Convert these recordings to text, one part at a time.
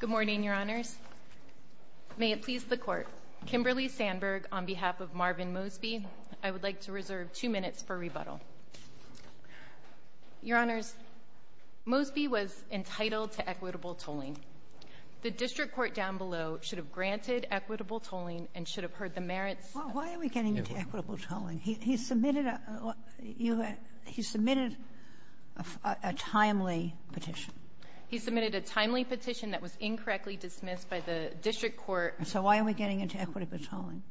Good morning, Your Honors. May it please the Court, Kimberly Sandberg on behalf of Marvin Mosby, I would like to reserve two minutes for rebuttal. Your Honors, Mosby was entitled to equitable tolling. The district court down below should have granted equitable tolling and should have heard the merits of… A timely petition. He submitted a timely petition that was incorrectly dismissed by the district court. So why are we getting into equitable tolling?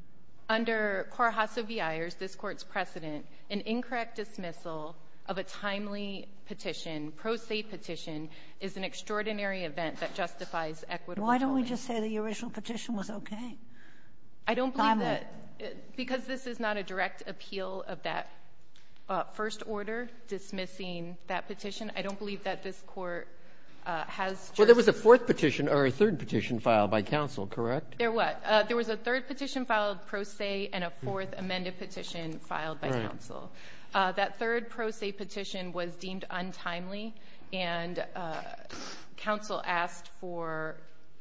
Under Carhasso v. Ayers, this Court's precedent, an incorrect dismissal of a timely petition, pro se petition, is an extraordinary event that justifies equitable tolling. Why don't we just say the original petition was okay? I don't believe that, because this is not a direct appeal of that first order dismissing that petition. I don't believe that this Court has just… Well, there was a fourth petition or a third petition filed by counsel, correct? There was a third petition filed pro se and a fourth amended petition filed by counsel. That third pro se petition was deemed untimely, and counsel asked for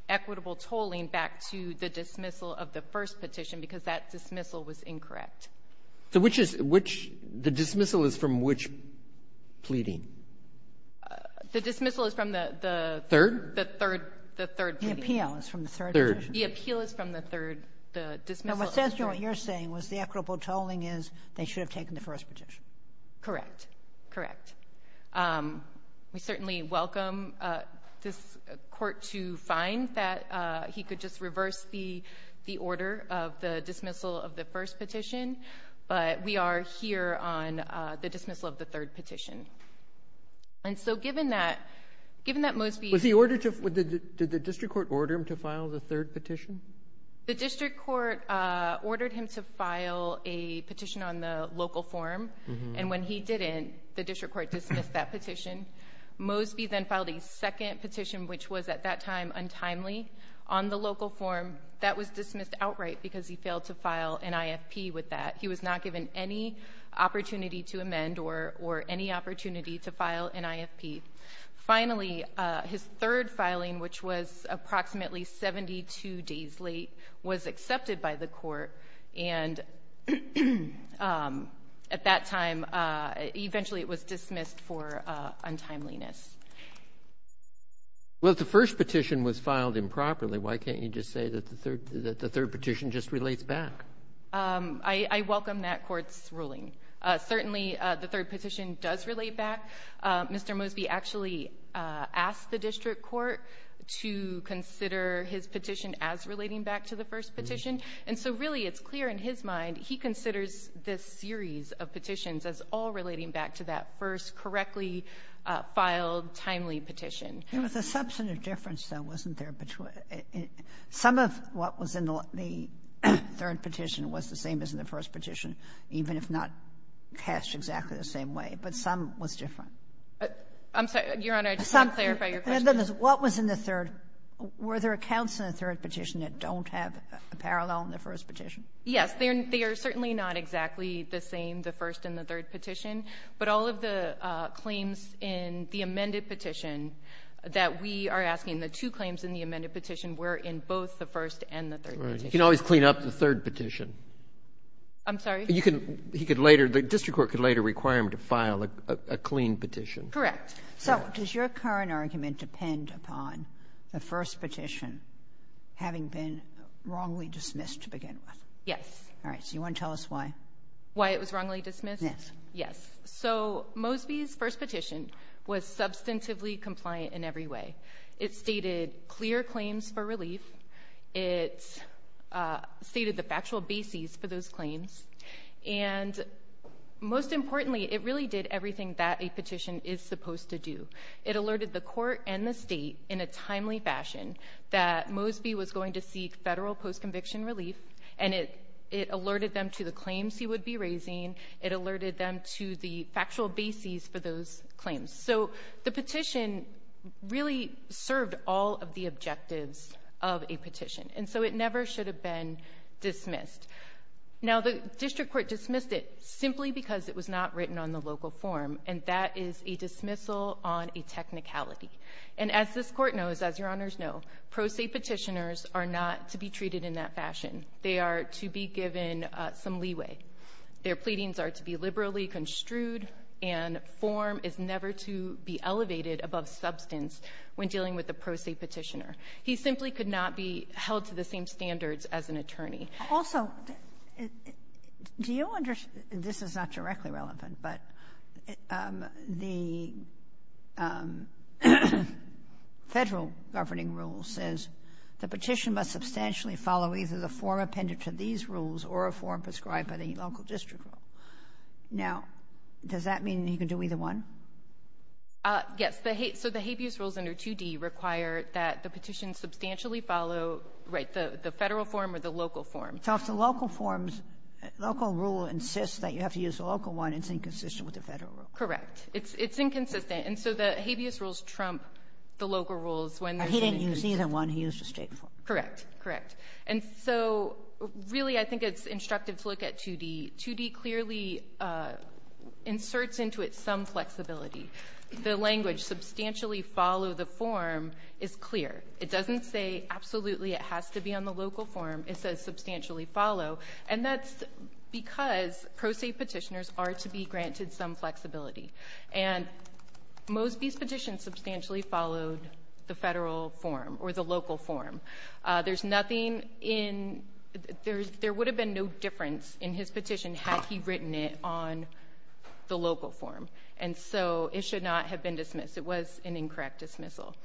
equitable tolling back to the dismissal of the first petition, because that dismissal was incorrect. So which is the dismissal is from which pleading? The dismissal is from the third? The third. The third. The appeal is from the third petition. The appeal is from the third. The dismissal is from the third. Now, what says to me what you're saying is the equitable tolling is they should have taken the first petition. Correct. Correct. We certainly welcome this Court to find that he could just reverse the order of the dismissal of the first petition, but we are here on the dismissal of the third petition. And so given that Mosby… Did the district court order him to file the third petition? The district court ordered him to file a petition on the local forum, and when he didn't, the district court dismissed that petition. Mosby then filed a second petition, which was at that time untimely, on the local forum. That was dismissed outright because he failed to file an IFP with that. He was not given any opportunity to amend or any opportunity to file an IFP. Finally, his third filing, which was approximately 72 days late, was accepted by the court, and at that time, eventually it was dismissed for untimeliness. Well, if the first petition was filed improperly, why can't you just say that the third petition just relates back? I welcome that Court's ruling. Certainly, the third petition does relate back. Mr. Mosby actually asked the district court to consider his petition as relating back to the first petition, and so really it's clear in his mind he considers this series of petitions as all relating back to that first correctly filed timely petition. There was a substantive difference, though, wasn't there? Some of what was in the third petition was the same as in the first petition, even if not cast exactly the same way, but some was different. I'm sorry, Your Honor, I just want to clarify your question. What was in the third? Were there accounts in the third petition that don't have a parallel in the first petition? Yes. They are certainly not exactly the same, the first and the third petition. But all of the claims in the amended petition that we are asking, the two claims in the amended petition were in both the first and the third petition. Right. You can always clean up the third petition. I'm sorry? You can — he could later — the district court could later require him to file a clean petition. Correct. So does your current argument depend upon the first petition having been wrongly dismissed to begin with? Yes. All right. So you want to tell us why? Why it was wrongly dismissed? Yes. Yes. So Mosby's first petition was substantively compliant in every way. It stated clear claims for relief. It stated the factual basis for those claims. And most importantly, it really did everything that a petition is supposed to do. It alerted the court and the state in a timely fashion that Mosby was going to seek federal post-conviction relief, and it alerted them to the claims he would be raising. It alerted them to the factual basis for those claims. So the petition really served all of the objectives of a petition. And so it never should have been dismissed. Now, the district court dismissed it simply because it was not written on the record. The district court knows, as Your Honors know, pro se petitioners are not to be treated in that fashion. They are to be given some leeway. Their pleadings are to be liberally construed, and form is never to be elevated above substance when dealing with a pro se petitioner. He simply could not be held to the same standards as an attorney. Kagan. Also, do you understand this is not directly relevant, but the Federal Governing Rule says the petition must substantially follow either the form appended to these rules or a form prescribed by the local district rule. Now, does that mean he can do either one? Yes. So the habeas rules under 2D require that the petition substantially follow the Federal form or the local form. So if the local form's local rule insists that you have to use the local one, it's inconsistent with the Federal rule. Correct. It's inconsistent. And so the habeas rules trump the local rules when there's an inconsistent one. He didn't use either one. He used the State form. Correct. Correct. And so really, I think it's instructive to look at 2D. 2D clearly inserts into it some flexibility. The language, substantially follow the form, is clear. It doesn't say absolutely it has to be on the local form. It says substantially follow. And that's because pro se petitioners are to be granted some flexibility. And Mosby's petition substantially followed the Federal form or the local form. There's nothing in there's there would have been no difference in his petition had he written it on the local form. And so it should not have been dismissed. It was an incorrect dismissal.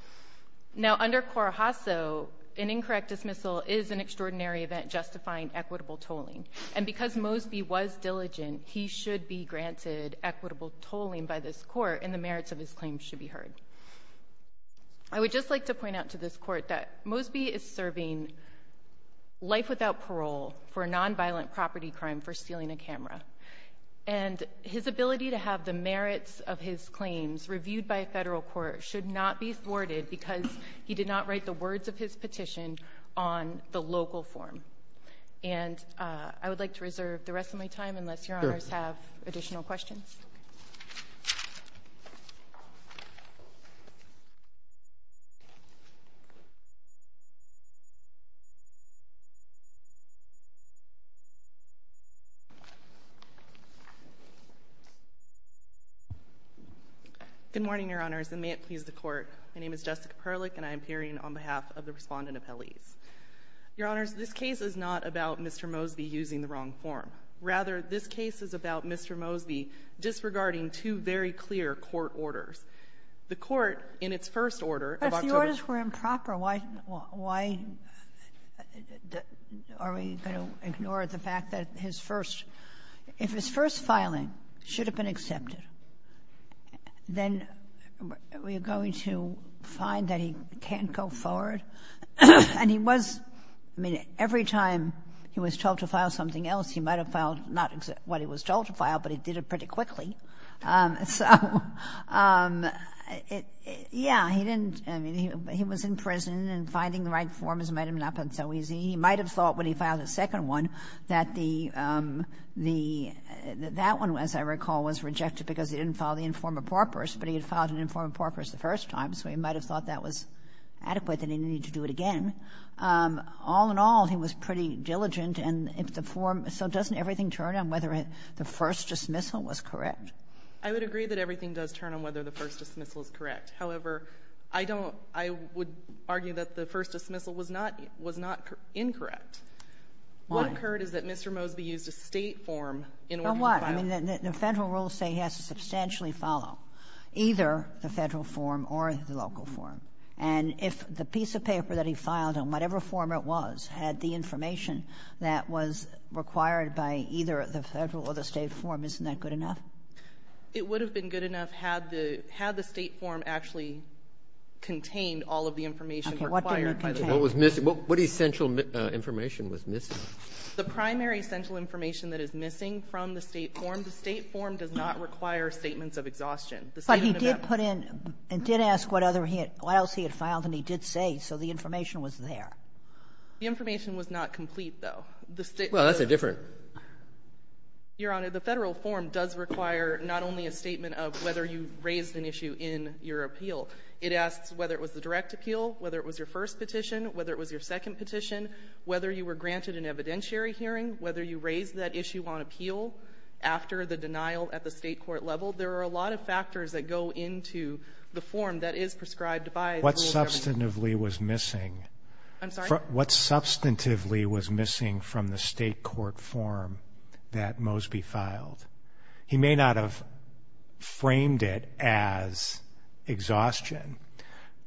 Now under Corajaso, an incorrect dismissal is an extraordinary event justifying equitable tolling. And because Mosby was diligent, he should be granted equitable tolling by this court and the merits of his claim should be heard. I would just like to point out to this Court that Mosby is serving life without parole for a nonviolent property crime for stealing a camera. And his ability to have the merits of his claims reviewed by a Federal court should not be thwarted because he did not write the words of his petition on the local form. And I would like to reserve the rest of my time unless Your Honors have additional questions. Good morning, Your Honors, and may it please the Court. My name is Jessica Perlich, and I am appearing on behalf of the Respondent Appellees. Your Honors, this case is not about Mr. Mosby using the wrong form. Rather, this case is about Mr. Mosby disregarding two very clear court orders. The Court, in its first order of October ---- But if the orders were improper, why are we going to ignore the fact that his first ---- if his first filing should have been accepted, then are we going to find that he can't go forward? And he was ---- I mean, every time he was told to file something else, he might have filed not what he was told to file, but he did it pretty quickly. So, yeah, he didn't ---- I mean, he was in prison, and finding the right form has made him not so easy. He might have thought when he filed the second one that the ---- that one, as I recall, was rejected because he didn't file the informer porpoise, but he had filed an informer porpoise the first time, so he might have thought that was adequate and he needed to do it again. All in all, he was pretty diligent, and if the form ---- so doesn't everything turn on whether the first dismissal was correct? I would agree that everything does turn on whether the first dismissal is correct. However, I don't ---- I would argue that the first dismissal was not incorrect. What occurred is that Mr. Mosby used a State form in order to file. Now, what? I mean, the Federal rules say he has to substantially follow either the Federal form or the local form. And if the piece of paper that he filed, on whatever form it was, had the information that was required by either the Federal or the State form, isn't that good enough? It would have been good enough had the State form actually contained all of the information required by the Federal. Okay. What did it contain? What was missing? What essential information was missing? The primary central information that is missing from the State form. The State form does not require statements of exhaustion. The State inventory ---- But he did put in and did ask what other he had ---- what else he had filed, and he did say, so the information was there. The information was not complete, though. The State ---- Well, that's a different ---- Your Honor, the Federal form does require not only a statement of whether you raised an issue in your appeal. It asks whether it was the direct appeal, whether it was your first petition, whether it was your second petition, whether you were granted an evidentiary hearing, whether you raised that issue on appeal after the denial at the State court level. There are a lot of factors that go into the form that is prescribed by the rule of government. What substantively was missing? I'm sorry? What substantively was missing from the State court form that Mosby filed? He may not have framed it as exhaustion,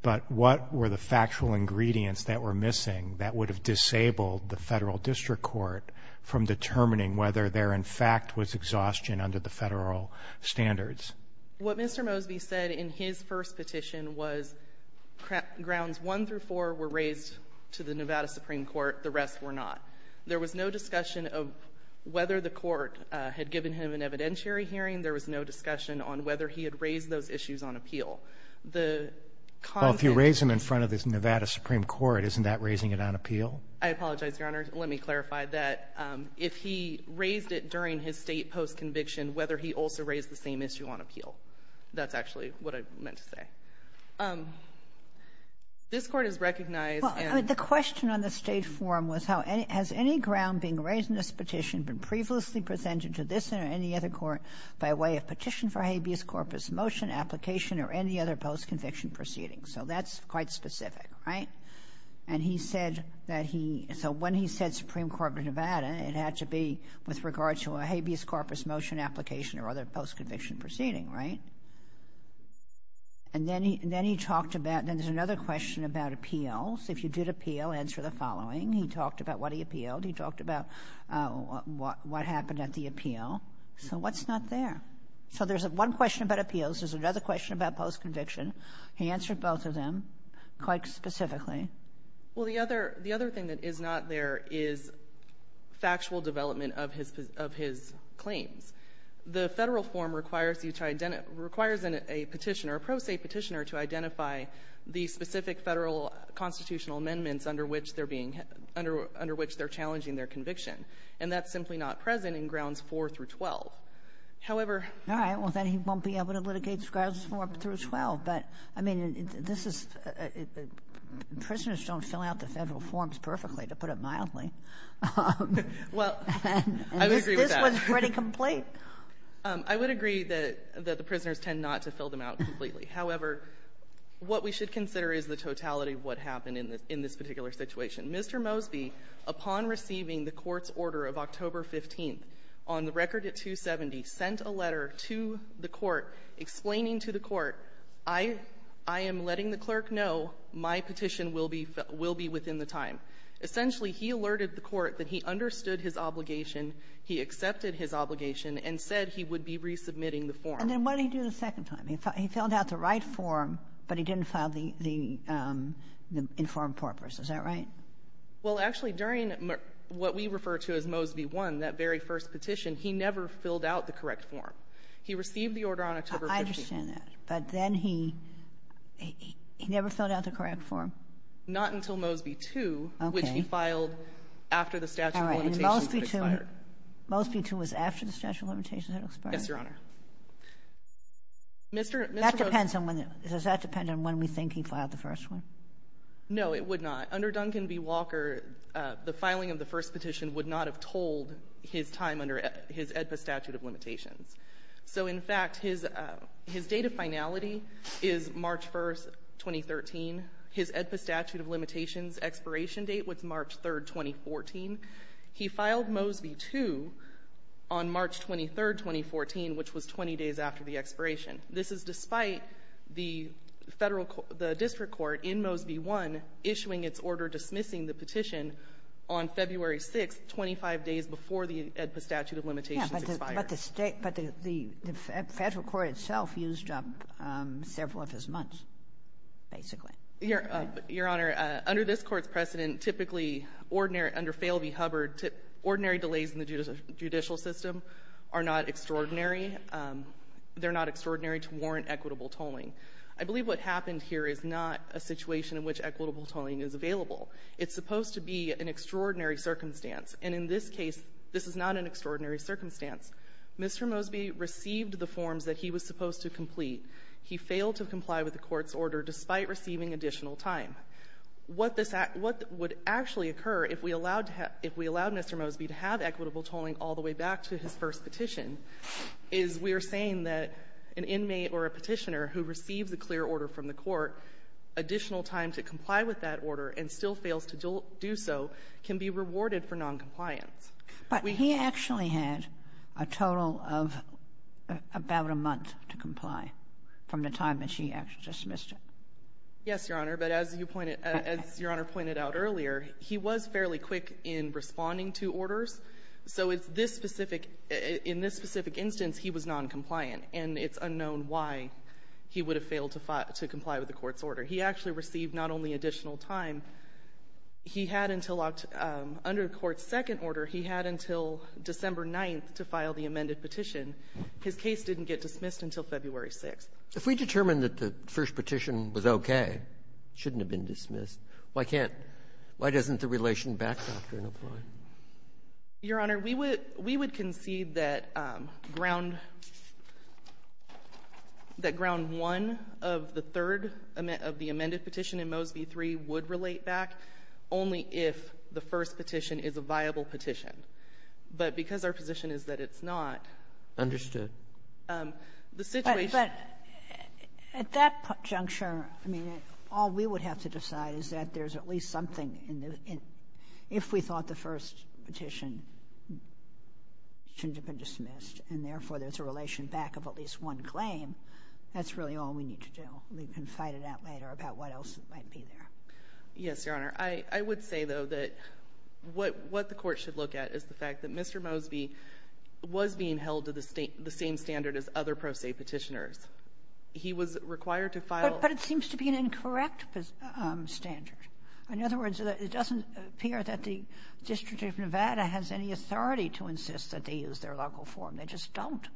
but what were the factual ingredients that were missing that would have disabled the Federal District Court from determining whether there in fact was exhaustion under the Federal standards? What Mr. Mosby said in his first petition was grounds 1 through 4 were raised to the Nevada Supreme Court. The rest were not. There was no discussion of whether the court had given him an evidentiary hearing. There was no discussion on whether he had raised those issues on appeal. The content ---- Well, if you raised them in front of the Nevada Supreme Court, isn't that raising it on appeal? I apologize, Your Honor. Let me clarify that. If he raised it during his State postconviction, whether he also raised the same issue on appeal. That's actually what I meant to say. This Court has recognized and ---- The question on the State form was how has any ground being raised in this petition been previously presented to this or any other court by way of petition for habeas corpus motion application or any other postconviction proceeding? So that's quite specific, right? And he said that he ---- So when he said Supreme Court of Nevada, it had to be with regard to a habeas corpus motion application or other postconviction proceeding, right? And then he talked about, and there's another question about appeals. If you did appeal, answer the following. He talked about what he appealed. He talked about what happened at the appeal. So what's not there? So there's one question about appeals. There's another question about postconviction. He answered both of them quite specifically. Well, the other thing that is not there is factual development of his claims. The Federal Court of Nevada has not yet been able to identify the specific Federal constitutional amendments under which they're being ---- under which they're challenging their conviction. And that's simply not present in Grounds 4 through 12. However ---- All right. Well, then he won't be able to litigate Grounds 4 through 12. But, I mean, this is ---- Prisoners don't fill out the Federal forms perfectly, to put it mildly. Well, I would agree with that. And this one's pretty complete? I would agree that the prisoners tend not to fill them out completely. However, what we should consider is the totality of what happened in this particular situation. Mr. Mosby, upon receiving the Court's order of October 15th, on the record at 270, sent a letter to the Court explaining to the Court, I am letting the clerk know my petition will be within the time. Essentially, he alerted the Court that he understood his obligation, he accepted his obligation, and said he would be resubmitting the form. And then what did he do the second time? He filled out the right form, but he didn't file the informed purpose. Is that right? Well, actually, during what we refer to as Mosby 1, that very first petition, he never filled out the correct form. He received the order on October 15th. I understand that. But then he never filled out the correct form? Not until Mosby 2, which he filed after the statute of limitations. Mosby 2 was after the statute of limitations had expired? Yes, Your Honor. That depends on when we think he filed the first one? No, it would not. Under Duncan v. Walker, the filing of the first petition would not have told his time under his AEDPA statute of limitations. So, in fact, his date of finality is March 1, 2013. His AEDPA statute of limitations expiration date was March 3, 2014. He filed Mosby 2 on March 23, 2014, which was 20 days after the expiration. This is despite the federal court, the district court in Mosby 1 issuing its order dismissing the petition on February 6, 25 days before the AEDPA statute of limitations expired. Yes, but the federal court itself used up several of his months, basically. Your Honor, under this Court's precedent, typically, under Fale v. Hubbard, ordinary delays in the judicial system are not extraordinary. They're not extraordinary to warrant equitable tolling. I believe what happened here is not a situation in which equitable tolling is available. It's supposed to be an extraordinary circumstance. And in this case, this is not an extraordinary circumstance. Mr. Mosby received the forms that he was supposed to complete. He failed to comply with the Court's request for additional time. What would actually occur if we allowed Mr. Mosby to have equitable tolling all the way back to his first petition is we are saying that an inmate or a petitioner who receives a clear order from the Court, additional time to comply with that order and still fails to do so can be rewarded for noncompliance. But he actually had a total of about a month to comply from the time that she actually dismissed it. Yes, Your Honor. But as you pointed — as Your Honor pointed out earlier, he was fairly quick in responding to orders. So it's this specific — in this specific instance, he was noncompliant. And it's unknown why he would have failed to comply with the Court's order. He actually received not only additional time. He had until — under the Court's second order, he had until December 9th to file the amended petition. His case didn't get dismissed until February 6th. If we determined that the first petition was okay, it shouldn't have been dismissed, why can't — why doesn't the Relation Back Doctrine apply? Your Honor, we would — we would concede that Ground — that Ground 1 of the third — of the amended petition in Mosby 3 would relate back only if the first petition is a viable petition. But because our position is that it's not — Understood. The situation — But at that juncture, I mean, all we would have to decide is that there's at least something in the — if we thought the first petition shouldn't have been dismissed and, therefore, there's a relation back of at least one claim, that's really all we need to do. We can fight it out later about what else might be there. Yes, Your Honor. I would say, though, that what the Court should look at is the fact that Mr. Mosby was being held to the same standard as other pro se petitioners. He was required to file — But it seems to be an incorrect standard. In other words, it doesn't appear that the District of Nevada has any authority to insist that they use their local form. They just don't.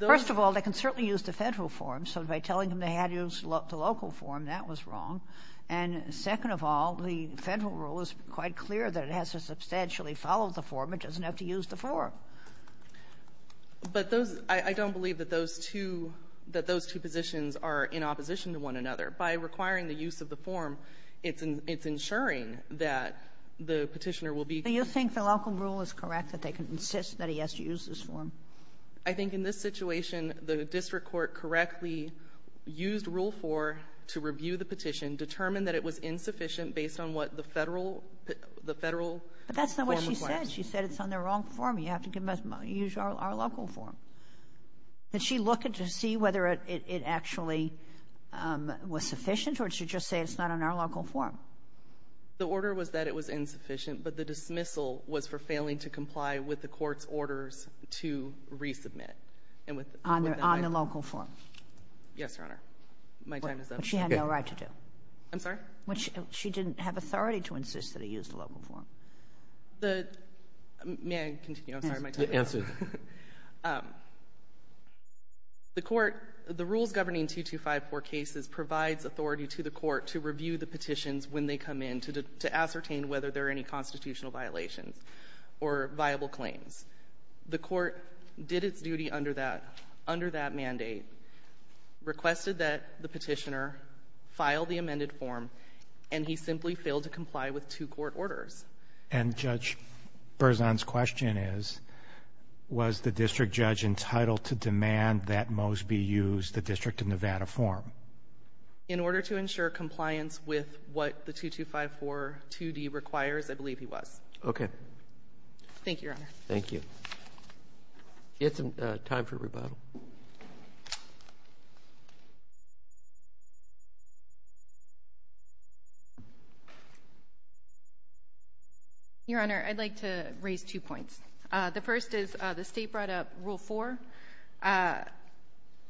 First of all, they can certainly use the Federal form. So by telling them they had to use the local form, that was wrong. And second of all, the Federal rule is quite clear that it has to substantially follow the form. It doesn't have to use the form. But those — I don't believe that those two — that those two positions are in opposition to one another. By requiring the use of the form, it's ensuring that the petitioner will be — Do you think the local rule is correct, that they can insist that he has to use this form? I think in this situation, the district court correctly used Rule 4 to review the petition, determined that it was insufficient based on what the Federal — the Federal form requires. But that's not what she said. She said it's on the wrong form. You have to use our local form. Did she look to see whether it actually was sufficient, or did she just say it's not on our local form? The order was that it was insufficient, but the dismissal was for failing to comply with the court's orders to resubmit. And with — On the local form. Yes, Your Honor. My time is up. Okay. But she had no right to do. I'm sorry? She didn't have authority to insist that he use the local form. The — may I continue? I'm sorry. My time is up. Answer. The court — the rules governing 2254 cases provides authority to the court to review the petitions when they come in to ascertain whether there are any constitutional violations or viable claims. The court did its duty under that — under that mandate, requested that the petitioner file the amended form, and he simply failed to comply with two court orders. And Judge Berzon's question is, was the district judge entitled to demand that Mosby use the District of Nevada form? In order to ensure compliance with what the 2254-2D requires, I believe he was. Okay. Thank you, Your Honor. Thank you. It's time for rebuttal. Your Honor, I'd like to raise two points. The first is the State brought up Rule 4.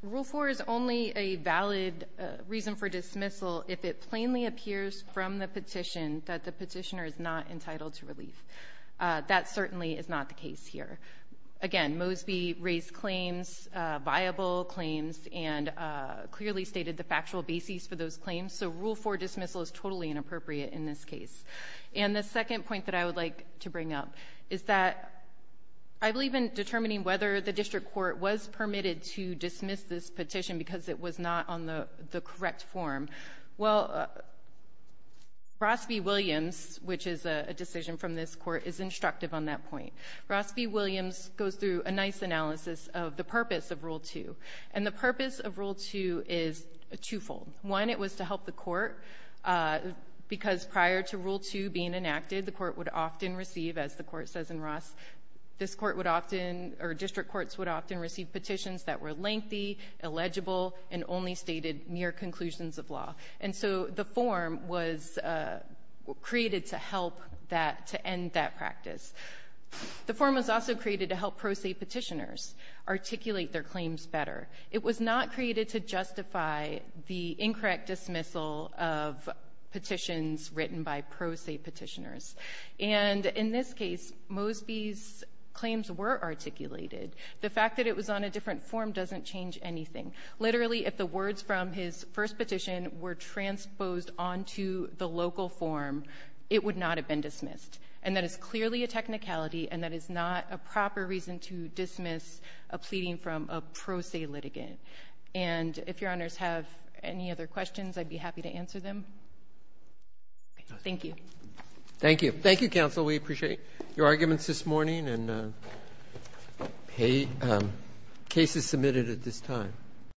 Rule 4 is only a valid reason for dismissal if it plainly appears from the petition that the petitioner is not entitled to relief. That certainly is not the case here. Again, Mosby raised claims, viable claims, and clearly stated the factual basis for those claims. So Rule 4 dismissal is totally inappropriate in this case. And the second point that I would like to bring up is that I believe in determining whether the district court was permitted to dismiss this petition because it was not on the correct form. Well, Ross v. Williams, which is a decision from this Court, is instructive on that point. Ross v. Williams goes through a nice analysis of the purpose of Rule 2. And the purpose of Rule 2 is twofold. One, it was to help the Court because prior to Rule 2 being enacted, the Court would often receive, as the Court says in Ross, this Court would often, or district courts would often receive petitions that were lengthy, illegible, and only stated mere conclusions of law. And so the form was created to help that, to end that practice. The form was also created to help pro se petitioners articulate their claims better. It was not created to justify the incorrect dismissal of petitions written by pro se petitioners. And in this case, Mosby's claims were articulated. The fact that it was on a different form doesn't change anything. Literally, if the words from his first petition were transposed onto the local form, it would not have been dismissed. And that is clearly a technicality and that is not a proper reason to dismiss a pleading from a pro se litigant. And if Your Honors have any other questions, I'd be happy to answer them. Thank you. Roberts. Thank you. Thank you, counsel. We appreciate your arguments this morning. And cases submitted at this time.